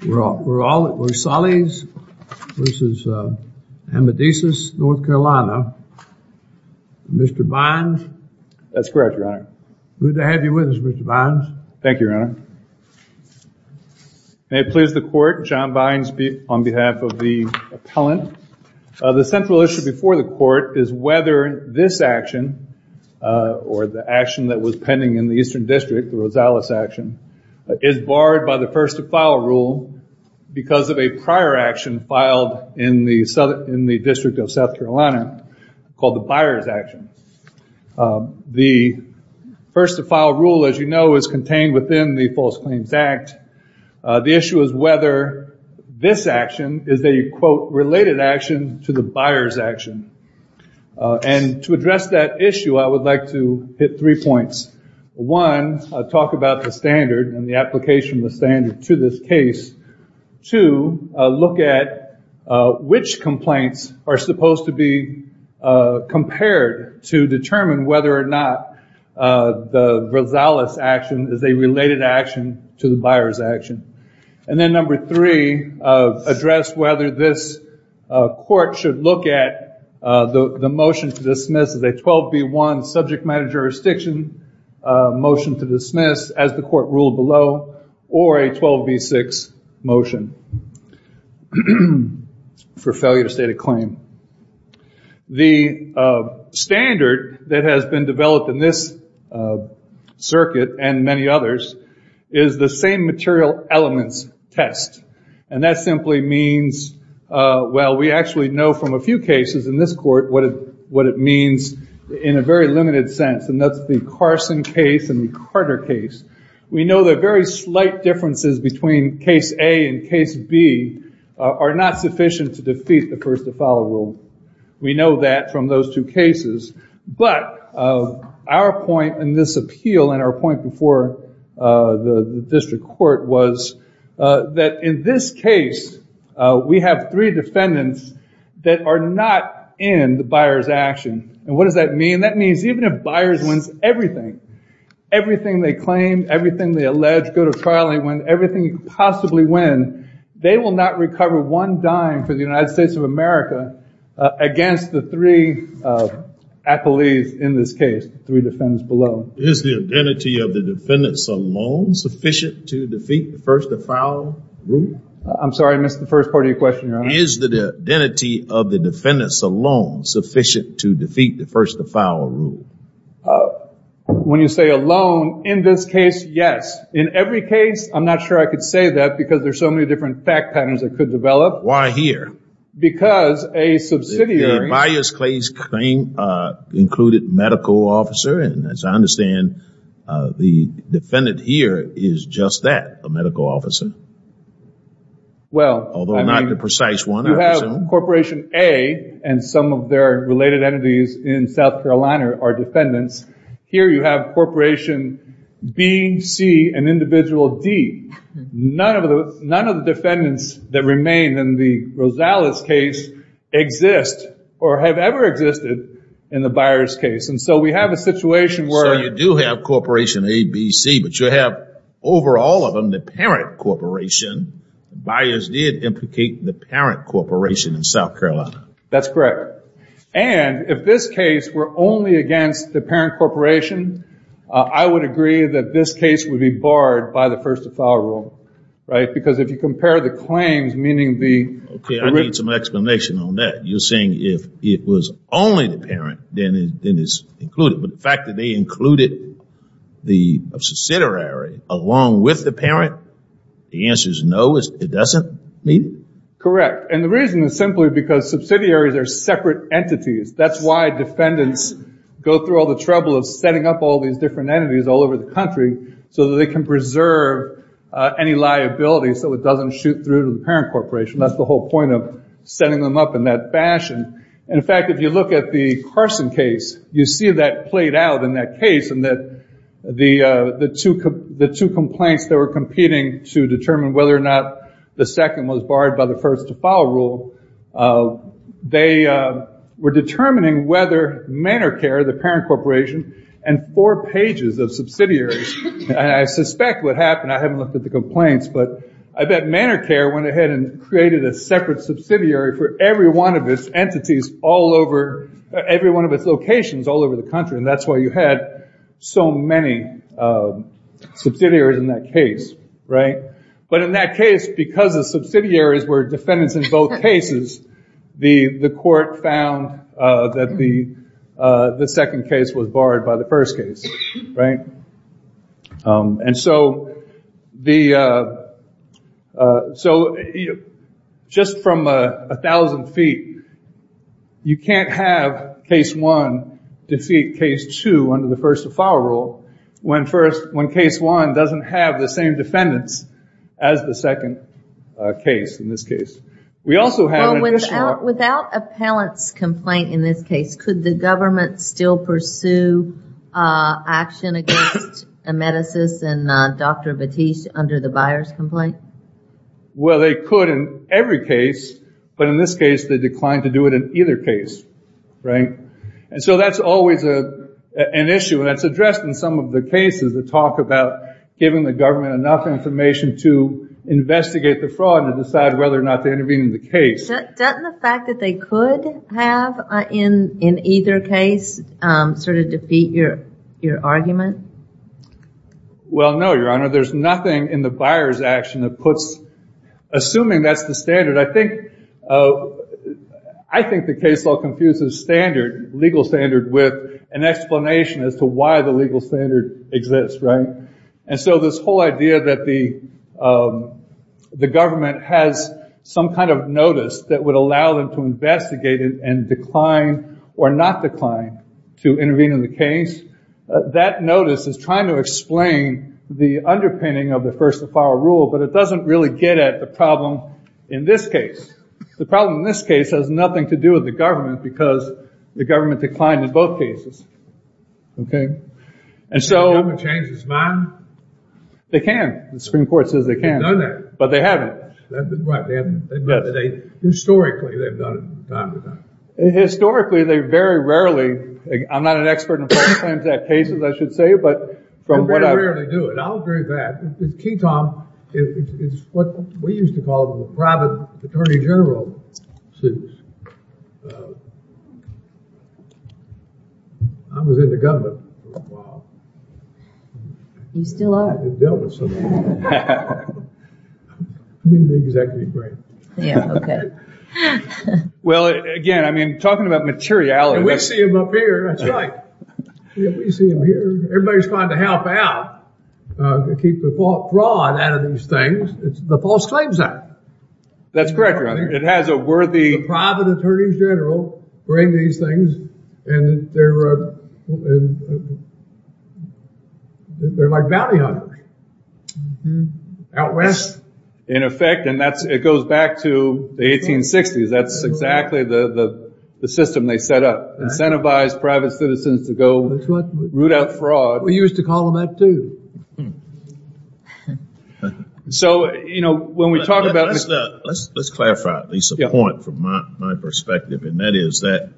Rosales v. Amedisys, North Carolina, Mr. Bynes. That's correct, Your Honor. Good to have you with us, Mr. Bynes. Thank you, Your Honor. May it please the court, John Bynes on behalf of the appellant. The central issue before the court is whether this action, or the action that was pending in the Eastern District, the Rosales action, is barred by the first-to-file rule because of a prior action filed in the District of South Carolina called the Byers action. The first-to-file rule, as you know, is contained within the False Claims Act. The issue is whether this action is a, quote, related action to the Byers action. And to address that issue, I would like to hit three points. One, talk about the standard and the application of the standard to this case. Two, look at which complaints are supposed to be compared to determine whether or not the Rosales action is a related action to the Byers action. And then number three, address whether this court should look at the motion to dismiss as a 12B1 subject matter jurisdiction motion to dismiss as the court ruled below, or a 12B6 motion for failure to state a claim. The standard that has been developed in this circuit and many others is the same material elements test. And that simply means, well, we actually know from a few cases in this court, what it means in a very limited sense. And that's the Carson case and the Carter case. We know the very slight differences between case A and case B are not sufficient to defeat the first-to-file rule. We know that from those two cases. But our point in this appeal and our point before the district court was that in this case, we have three defendants that are not in the Byers action. And what does that mean? That means even if Byers wins everything, everything they claim, everything they allege, go to trial and win, everything you could possibly win, they will not recover one dime for the United States of America against the three appellees in this case, three defendants below. Is the identity of the defendants alone sufficient to defeat the first-to-file I'm sorry, I missed the first part of your question, Your Honor. Is the identity of the defendants alone sufficient to defeat the first-to-file rule? Uh, when you say alone in this case, yes. In every case, I'm not sure I could say that because there's so many different fact patterns that could develop. Why here? Because a subsidiary, a Byers case claim, uh, included medical officer. And as I understand, uh, the defendant here is just that, a medical officer. Well, I mean, you have corporation A and some of their related entities in South Carolina are defendants. Here you have corporation B, C, and individual D. None of the, none of the defendants that remain in the Rosales case exist or have ever existed in the Byers case. And so we have a situation where... So you do have corporation A, B, C, but you have over all of them, the parent corporation, Byers did implicate the parent corporation in South Carolina. That's correct. And if this case were only against the parent corporation, uh, I would agree that this case would be barred by the first-to-file rule, right? Because if you compare the claims, meaning the... Okay, I need some explanation on that. You're saying if it was only the parent, then it's included. But the fact that they included the subsidiary along with the parent, the answer is no, it doesn't mean? Correct. And the reason is simply because subsidiaries are separate entities. That's why defendants go through all the trouble of setting up all these different entities all over the country so that they can preserve any liabilities so it doesn't shoot through to the parent corporation. That's the whole point of setting them up in that fashion. And in fact, if you look at the Carson case, you see that played out in that case and that the two complaints that were competing to determine whether or not the second was barred by the first-to-file rule, they were determining whether Manor Care, the parent corporation, and four pages of subsidiaries. And I suspect what happened, I haven't looked at the complaints, but I bet Manor Care went ahead and created a separate subsidiary for every one of its locations all over the country. And that's why you had so many subsidiaries in that case, right? But in that case, because the subsidiaries were defendants in both cases, the court found that the second case was barred by the first case, right? And so, just from a thousand feet, you can't have case one defeat case two under the first-to-file rule when case one doesn't have the same defendants as the second case in this case. We also have an additional... Without a parent's complaint in this case, could the government still pursue action against Emeticis and Dr. Batiste under the buyer's complaint? Well, they could in every case, but in this case, they declined to do it in either case, right? And so that's always an issue, and that's addressed in some of the cases that talk about giving the government enough information to investigate the fraud and decide whether or not they intervene in the case. Doesn't the fact that they could have, in either case, sort of defeat your argument? Well, no, Your Honor. There's nothing in the buyer's action that puts... Assuming that's the standard, I think the case law confuses standard, legal standard, with an explanation as to why the legal standard exists, right? And so this whole idea that the government has some kind of notice that would allow them to investigate and decline or not decline to intervene in the case, that notice is trying to explain the underpinning of the first-of-file rule, but it doesn't really get at the problem in this case. The problem in this case has nothing to do with the government because the government declined in both cases. Okay? And so... Can the government change its mind? They can. The Supreme Court says they can. They've done that. But they haven't. That's right. They haven't. Historically, they've done it from time to time. Historically, they very rarely... I'm not an expert in filing claims at cases, I should say, but from what I... They very rarely do it. I was very bad. King Tom, it's what we used to call the private attorney general suits. I was in the government for a while. You still are. I've been dealt with so much. I'm in the executive branch. Yeah, okay. Well, again, I mean, talking about materiality... And we see him up here. That's right. We see him here. Everybody's trying to help out, to keep the fraud out of these things. It's the false claims act. That's correct, Your Honor. It has a worthy... The private attorneys general bring these things and they're like bounty hunters out west. In effect, and it goes back to the 1860s. That's exactly the system they set up, incentivize private citizens to go root out fraud. We used to call them that too. Let's clarify at least a point from my perspective, and that is that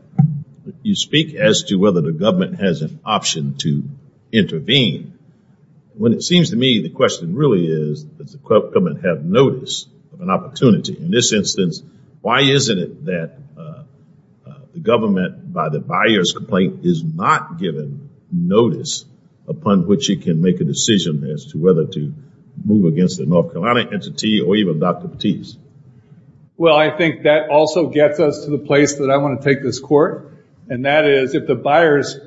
you speak as to whether the government has an option to intervene. When it seems to me, the question really is, does the government have notice of an opportunity? In this instance, why isn't it that the government, by the buyer's complaint, is not given notice upon which it can make a decision as to whether to move against the North Carolina entity or even Dr. Batiste? Well, I think that also gets us to the place that I want to take this court. And that is, if the buyers,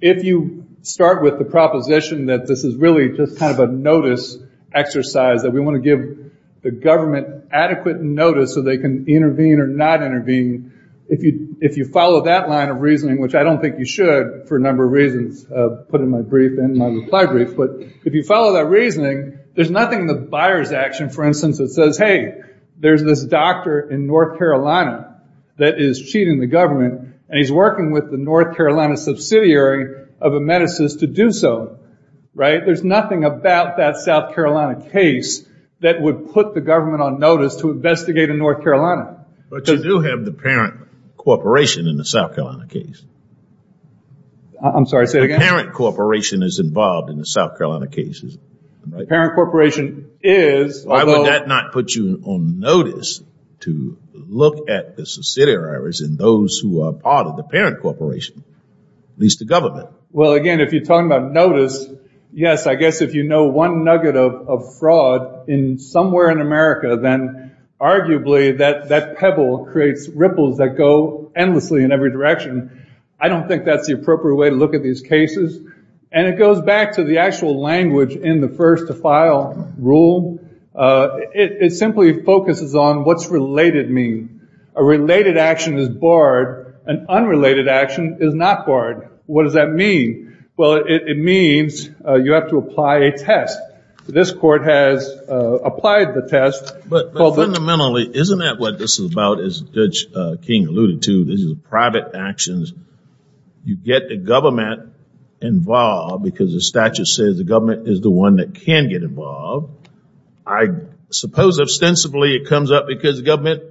if you start with the proposition that this is really just kind of a notice exercise, that we want to give the government adequate notice so they can intervene or not intervene. If you follow that line of reasoning, which I don't think you should for a number of reasons, put in my brief and my reply brief, but if you follow that reasoning, there's nothing in the buyer's action, for instance, that says, hey, there's this doctor in North Carolina that is cheating the government. And he's working with the North Carolina subsidiary of a medicine to do so, right? There's nothing about that South Carolina case that would put the government on notice to investigate in North Carolina. But you do have the parent corporation in the South Carolina case. I'm sorry, say it again. The parent corporation is involved in the South Carolina cases, right? The parent corporation is. Why would that not put you on notice to look at the subsidiaries and those who are part of the parent corporation, at least the government? Well, again, if you're talking about notice, yes, I guess if you know one nugget of fraud in somewhere in America, then arguably that pebble creates ripples that go endlessly in every direction. I don't think that's the appropriate way to look at these cases. And it goes back to the actual language in the first to file rule. It simply focuses on what's related mean. A related action is barred. An unrelated action is not barred. What does that mean? Well, it means you have to apply a test. This court has applied the test. But fundamentally, isn't that what this is about? As Judge King alluded to, this is private actions. You get the government involved because the statute says the government is the one that can get involved. I suppose ostensibly it comes up because the government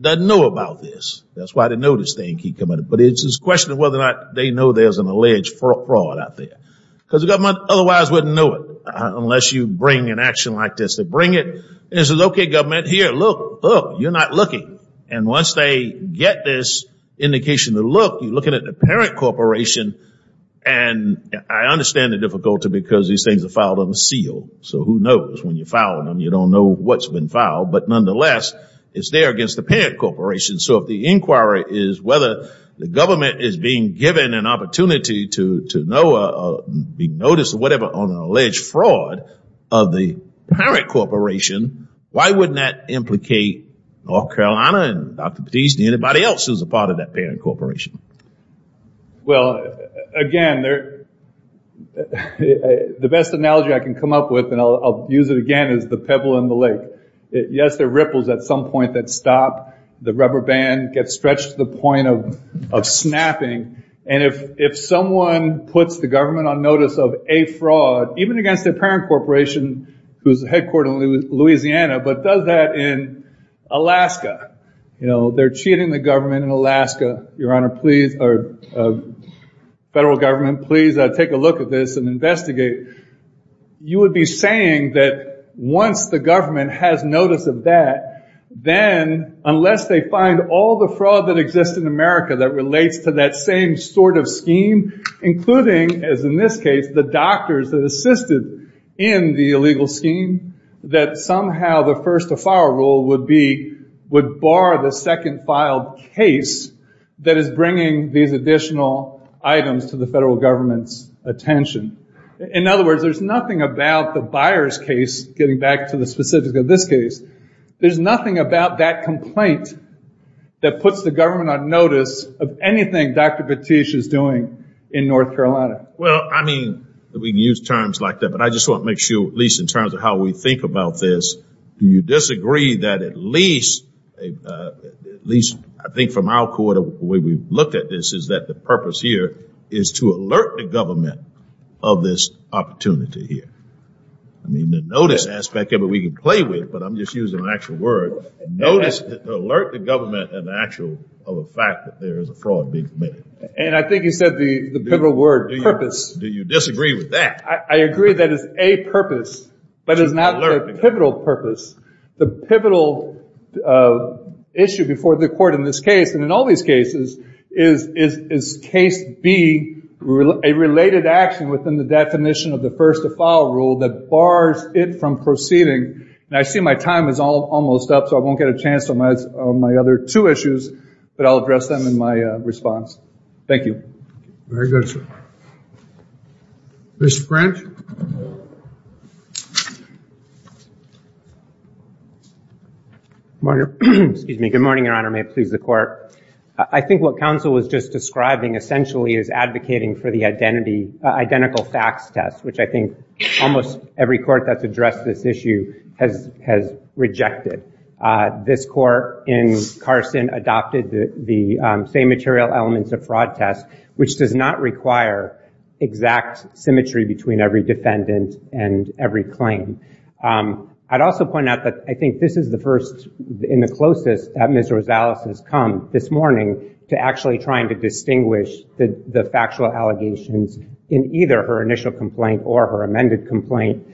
doesn't know about this. That's why the notice thing keeps coming up. But it's a question of whether or not they know there's an alleged fraud out there. Because the government otherwise wouldn't know it, unless you bring an action like this. They bring it, and it says, okay, government, here, look, look, you're not looking. And once they get this indication to look, you're looking at the parent corporation. And I understand the difficulty because these things are filed on a seal. So who knows? When you file them, you don't know what's been filed. But nonetheless, it's there against the parent corporation. So if the inquiry is whether the government is being given an opportunity to know or be noticed or whatever on an alleged fraud of the parent corporation, why wouldn't that implicate North Carolina and Dr. Poteete and anybody else who's a part of that parent corporation? Well, again, the best analogy I can come up with, and I'll use it again, is the pebble in the lake. Yes, there are ripples at some point that stop the rubber band, get stretched to the point of snapping. And if someone puts the government on notice of a fraud, even against their parent corporation, who's headquartered in Louisiana, but does that in Alaska, you know, they're cheating the government in Alaska, your honor, please, or federal government, please take a look at this and investigate. You would be saying that once the government has notice of that, then unless they find all the fraud that exists in America that relates to that same sort of scheme, including, as in this case, the doctors that assisted in the illegal scheme, that somehow the first to file rule would be, would bar the second filed case that is bringing these additional items to the federal government's attention. In other words, there's nothing about the Byers case, getting back to the specifics of this case, there's nothing about that complaint that puts the government on notice of anything Dr. Petit is doing in North Carolina. Well, I mean, we use terms like that, but I just want to make sure, at least in terms of how we think about this, do you disagree that at least, at least I think from our quarter, the way we look at this is that the purpose here is to alert the government of this opportunity here. I mean, the notice aspect of it we can play with, but I'm just using an actual word, notice, alert the government of the actual, of the fact that there is a fraud being committed. And I think you said the pivotal word, purpose. Do you disagree with that? I agree that it's a purpose, but it's not a pivotal purpose. The pivotal issue before the court in this case, and in all these cases, is case B, a related action within the definition of the first to file rule that bars it from proceeding. And I see my time is almost up, so I won't get a chance on my other two issues, but I'll address them in my response. Thank you. Very good, sir. Mr. French? Excuse me. Good morning, Your Honor. May it please the court. I think what counsel was just describing essentially is advocating for the identity, identical facts test, which I think almost every court that's addressed this issue has rejected. This court in Carson adopted the same material elements of fraud test, which does not require exact symmetry between every defendant and every claim. I'd also point out that I think this is the first and the closest that Ms. Rosales has come this morning to actually trying to distinguish the factual allegations in either her initial complaint or her amended complaint.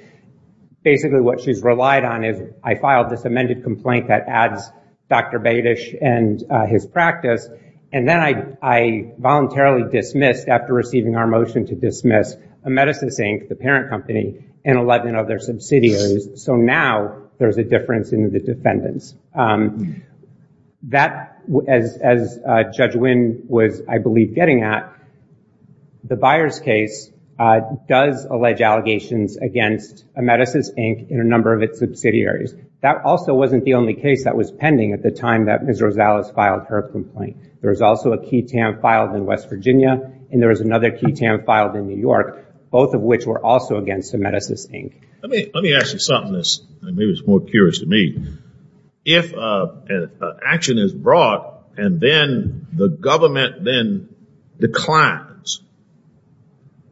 Basically, what she's relied on is I filed this amended complaint that adds Dr. Badish and his practice, and then I voluntarily dismissed, after receiving our motion to dismiss, Emeticis, Inc., the parent company, and 11 other subsidiaries. So now there's a difference in the defendants. That, as Judge Wynn was, I believe, getting at, the Byers case does allege allegations against Emeticis, Inc., and a number of its subsidiaries. That also wasn't the only case that was pending at the time that Ms. Rosales filed her complaint. There was also a key TAM filed in West Virginia, and there was another key TAM filed in New York, both of which were also against Emeticis, Inc. Let me ask you something that's maybe more curious to me. If an action is brought and then the government then declines,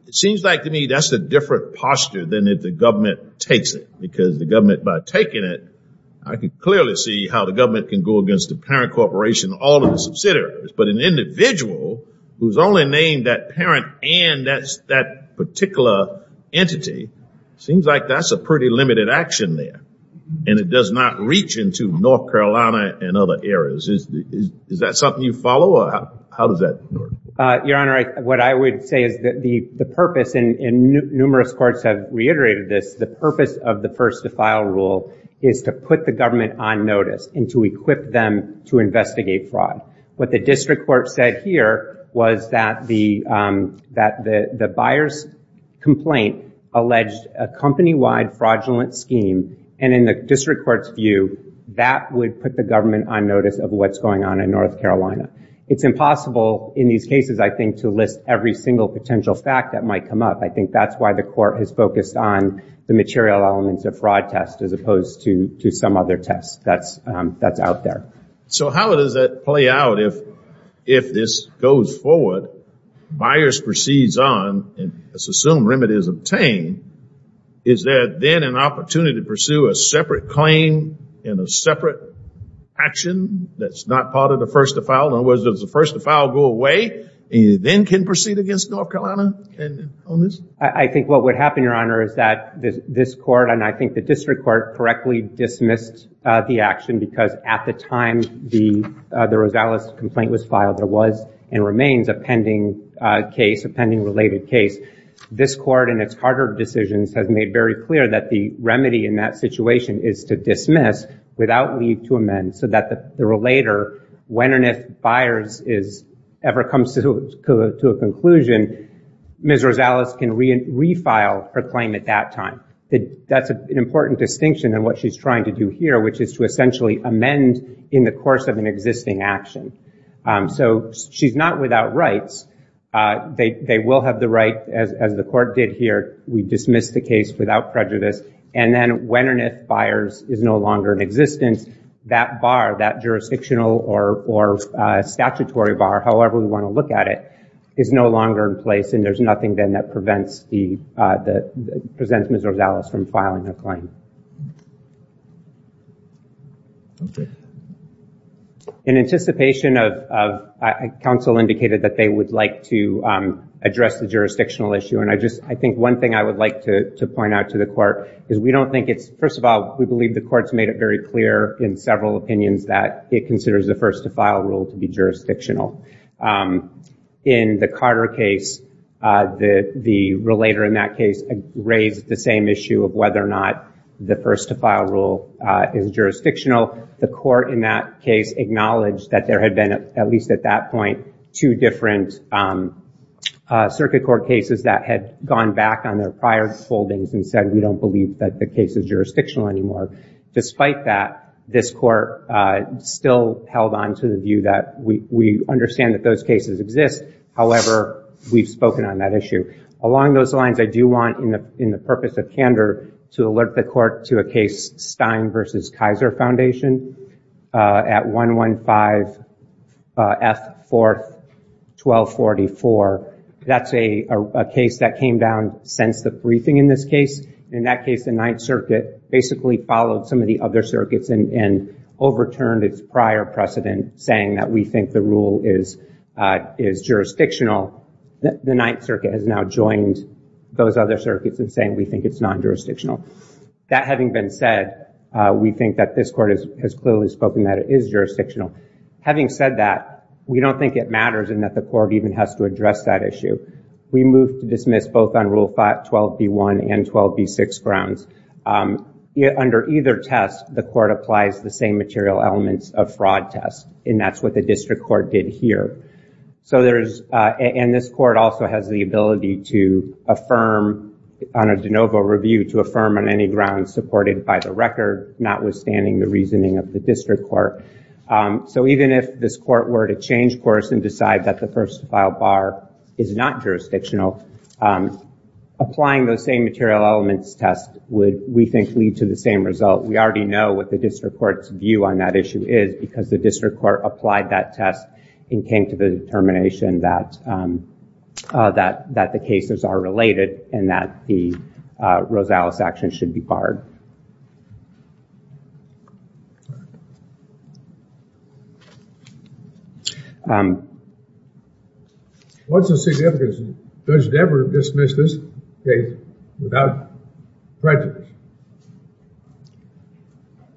it seems like to me that's a different posture than if the government takes it, because the government, by taking it, I can clearly see how the government can go against the parent corporation and all of the subsidiaries. But an individual who's only named that parent and that particular entity, seems like that's a pretty limited action there, and it does not reach into North Carolina and other areas. Is that something you follow, or how does that work? Your Honor, what I would say is that the purpose, and numerous courts have reiterated this, the purpose of the first to file rule is to put the government on notice and to equip them to investigate fraud. What the district court said here was that the buyer's complaint alleged a company-wide fraudulent scheme, and in the district court's view, that would put the government on notice of what's going on in North Carolina. It's impossible in these cases, I think, to list every single potential fact that might come up. I think that's why the court has focused on the material elements of fraud test as opposed to some other test that's out there. So how does that play out if this goes forward, buyers proceeds on, and let's assume remedy is obtained, is there then an opportunity to pursue a separate claim and a separate action that's not part of the first to file? In other words, does the first to file go away, and you then can proceed against North Carolina on this? I think what would happen, Your Honor, is that this court, and I think the district court correctly dismissed the action because at the time the Rosales complaint was filed, there was and remains a pending case, a pending related case. This court in its harder decisions has made very clear that the remedy in that situation is to dismiss without need to amend so that the relater, when and if buyers ever comes to a conclusion, Ms. Rosales can refile her claim at that time. That's an important distinction in what she's trying to do here, which is to essentially amend in the course of an existing action. So she's not without rights. They will have the right, as the court did here, we dismiss the case without prejudice, and then when and if buyers is no longer in existence, that bar, that jurisdictional or statutory bar, however we want to look at it, is no longer in place, and there's nothing then that prevents Ms. Rosales from filing her claim. In anticipation of, counsel indicated that they would like to address the jurisdictional issue, and I just, I think one thing I would like to point out to the court is we don't think it's, first of all, we believe the court's made it very clear in several opinions that it considers the first to file rule to be jurisdictional. In the Carter case, the relator in that case raised the same issue of whether or not the first to file rule is jurisdictional. The court in that case acknowledged that there had been, at least at that point, two different circuit court cases that had gone back on their prior holdings and said we don't believe that the case is jurisdictional anymore. Despite that, this court still held on to the view we understand that those cases exist, however, we've spoken on that issue. Along those lines, I do want, in the purpose of candor, to alert the court to a case, Stein v. Kaiser Foundation, at 115 F. 4th, 1244. That's a case that came down since the briefing in this case. In that case, the Ninth Circuit basically followed some of the other circuits and overturned its prior precedent saying that we think the rule is jurisdictional. The Ninth Circuit has now joined those other circuits in saying we think it's non-jurisdictional. That having been said, we think that this court has clearly spoken that it is jurisdictional. Having said that, we don't think it matters and that the court even has to address that issue. We move to dismiss both on Rule 12b1 and 12b6 grounds. Under either test, the court applies the same material elements of fraud test and that's what the district court did here. This court also has the ability to affirm, on a de novo review, to affirm on any grounds supported by the record, notwithstanding the reasoning of the district court. Even if this court were to change course and decide that the first-file bar is not jurisdictional, applying those same material elements test would, we think, lead to the same result. We already know what the district court's view on that issue is because the district court applied that test and came to the determination that the cases are related and that the Rosales action should be barred. What's the significance? Does it ever dismiss this case without prejudice?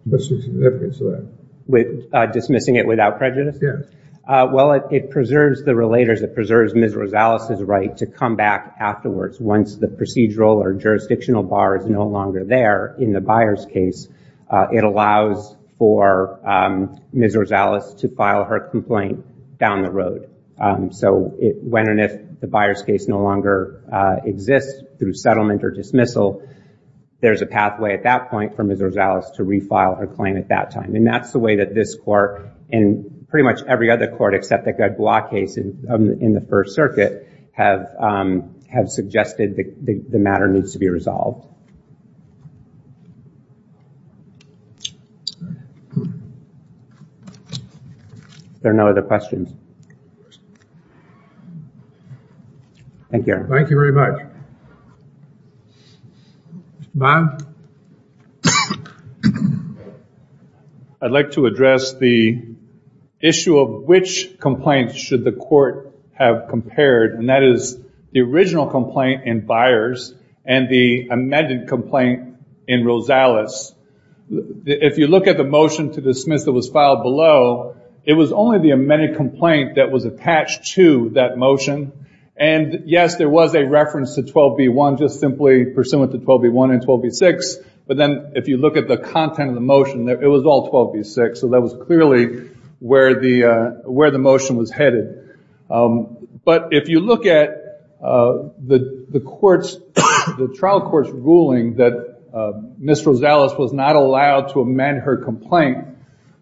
What's the significance of that? With dismissing it without prejudice? Yes. Well, it preserves the relators. It preserves Ms. Rosales' right to come back afterwards once the procedural or jurisdictional bar is no longer there in the buyer's case. It allows for Ms. Rosales to file her complaint down the road. So when and if the buyer's case no longer exists through settlement or dismissal, there's a pathway, at that point, for Ms. Rosales to refile her claim at that time. And that's the way that this court and pretty much every other court, except the Gaglois case in the First Circuit, have suggested that the matter needs to be resolved. There are no other questions? Thank you. Thank you very much. Bob? I'd like to address the issue of which complaints should the court have compared. And that is the original complaint in Byers and the amended complaint in Rosales. If you look at the motion to dismiss that was filed below, it was only the amended complaint that was attached to that motion. And yes, there was a reference to 12b1, just simply pursuant to 12b1 and 12b6. But then if you look at the content of the motion, it was all 12b6. So that was clearly where the motion was headed. But if you look at the trial court's ruling that Ms. Rosales was not allowed to amend her complaint,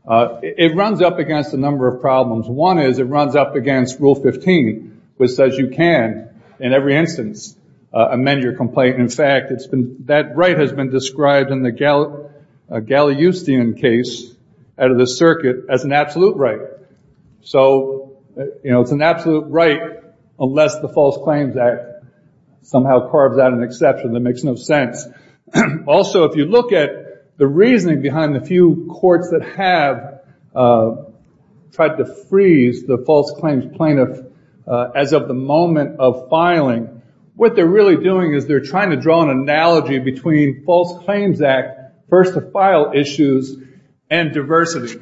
it runs up against a number of problems. One is it runs up against Rule 15, which says you can, in every instance, amend your complaint. In fact, that right has been described in the Galiustian case out of the circuit as an absolute right. So it's an absolute right unless the False Claims Act somehow carves out an exception that makes no sense. Also, if you look at the reasoning behind the few courts that have tried to freeze the false claims plaintiff as of the moment of filing, what they're really doing is they're trying to draw an analogy between False Claims Act, first to file issues, and diversity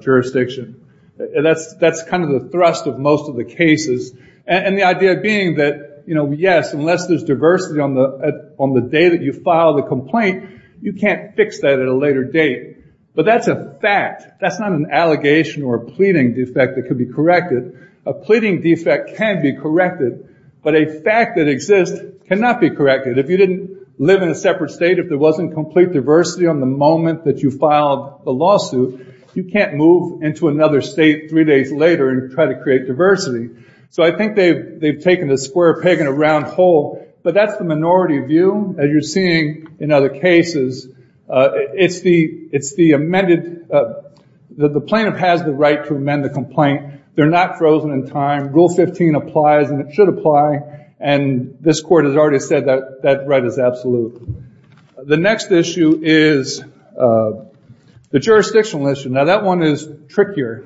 jurisdiction. That's kind of the thrust of most of the cases. And the idea being that, yes, unless there's diversity on the day that you file the complaint, you can't fix that at a later date. But that's a fact. That's not an allegation or a pleading defect that could be corrected. A pleading defect can be corrected. But a fact that exists cannot be corrected. If you didn't live in a separate state, if there wasn't complete diversity on the moment that you filed the lawsuit, you can't move into another state three days later and try to create diversity. So I think they've taken a square peg in a round hole. But that's the minority view, as you're seeing in other cases. It's the amended, the plaintiff has the right to amend the complaint. They're not frozen in time. Rule 15 applies, and it should apply. And this court has already said that that right is absolute. The next issue is the jurisdictional issue. Now, that one is trickier,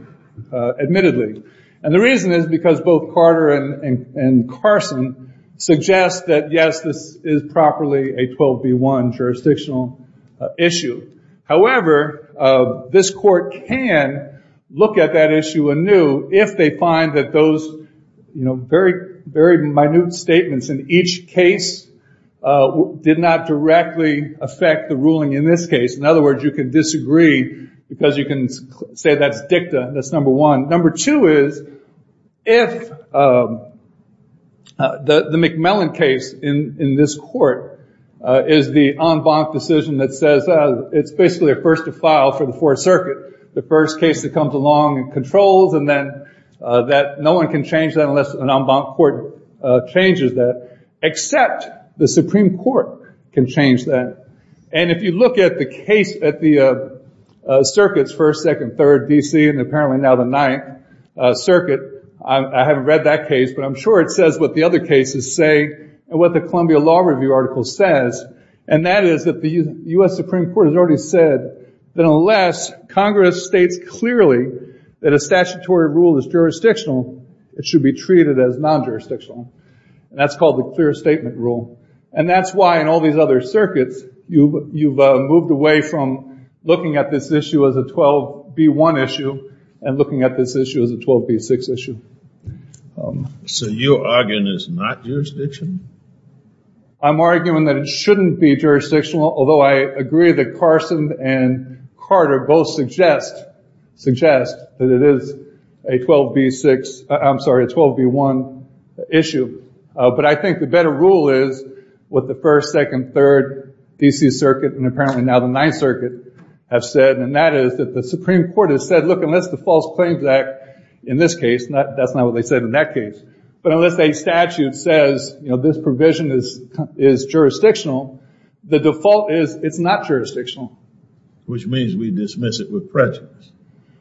admittedly. And the reason is because both Carter and Carson suggest that, yes, this is properly a 12B1 jurisdictional issue. However, this court can look at that issue anew if they find that those very minute statements in each case did not directly affect the ruling in this case. In other words, you can disagree because you can say that's dicta. That's number one. Number two is if the McMillan case in this court is the en banc decision that says it's basically a first to file for the Fourth Circuit, the first case that comes along and controls, and then that no one can change that unless an en banc court changes that, except the Supreme Court can change that. And if you look at the case at the circuits, First, Second, Third, D.C., and apparently now the Ninth Circuit, I haven't read that case, but I'm sure it says what the other cases say and what the Columbia Law Review article says. And that is that the U.S. Supreme Court has already said that unless Congress states clearly that a statutory rule is jurisdictional, it should be treated as non-jurisdictional. And that's called the clear statement rule. And that's why in all these other circuits, you've moved away from looking at this issue as a 12B1 issue and looking at this issue as a 12B6 issue. So your argument is not jurisdictional? I'm arguing that it shouldn't be jurisdictional, although I agree that Carson and Carter both suggest that it is a 12B6, I'm sorry, a 12B1 issue. But I think the better rule is what the First, Second, Third, D.C. Circuit, and apparently now the Ninth Circuit have said, and that is that the Supreme Court has said, look, unless the False Claims Act, in this case, that's not what they said in that case, but unless a statute says this provision is jurisdictional, the default is it's not jurisdictional. Which means we dismiss it with prejudice.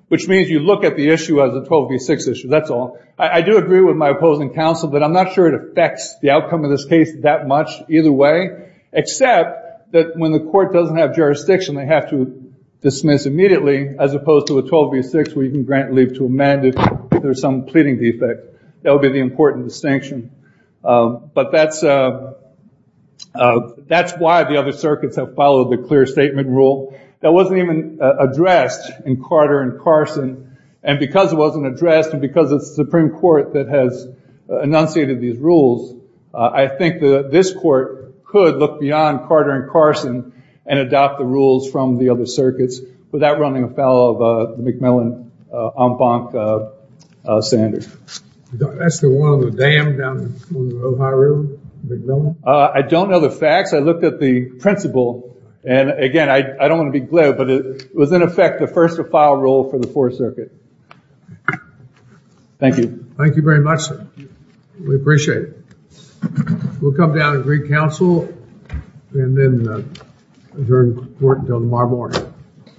Which means you look at the issue as a 12B6 issue, that's all. I do agree with my opposing counsel that I'm not sure it affects the outcome of this case that much either way, except that when the court doesn't have jurisdiction, they have to dismiss immediately, as opposed to a 12B6 where you can grant leave to amend it if there's some pleading defect. That would be the important distinction. But that's why the other circuits have followed the clear statement rule that wasn't even addressed in Carter and Carson. And because it wasn't addressed, and because it's the Supreme Court that has enunciated these rules, I think this court could look beyond Carter and Carson and adopt the rules from the other circuits without running afoul of the McMillan-Ombank standard. That's the one on the dam down on the Ohio River, McMillan? I don't know the facts. I looked at the principle. And again, I don't want to be glib, but it was, in effect, the first-to-file rule for the Fourth Circuit. Thank you. Thank you very much, sir. We appreciate it. We'll come down and read counsel and then adjourn court until tomorrow morning. Thank you.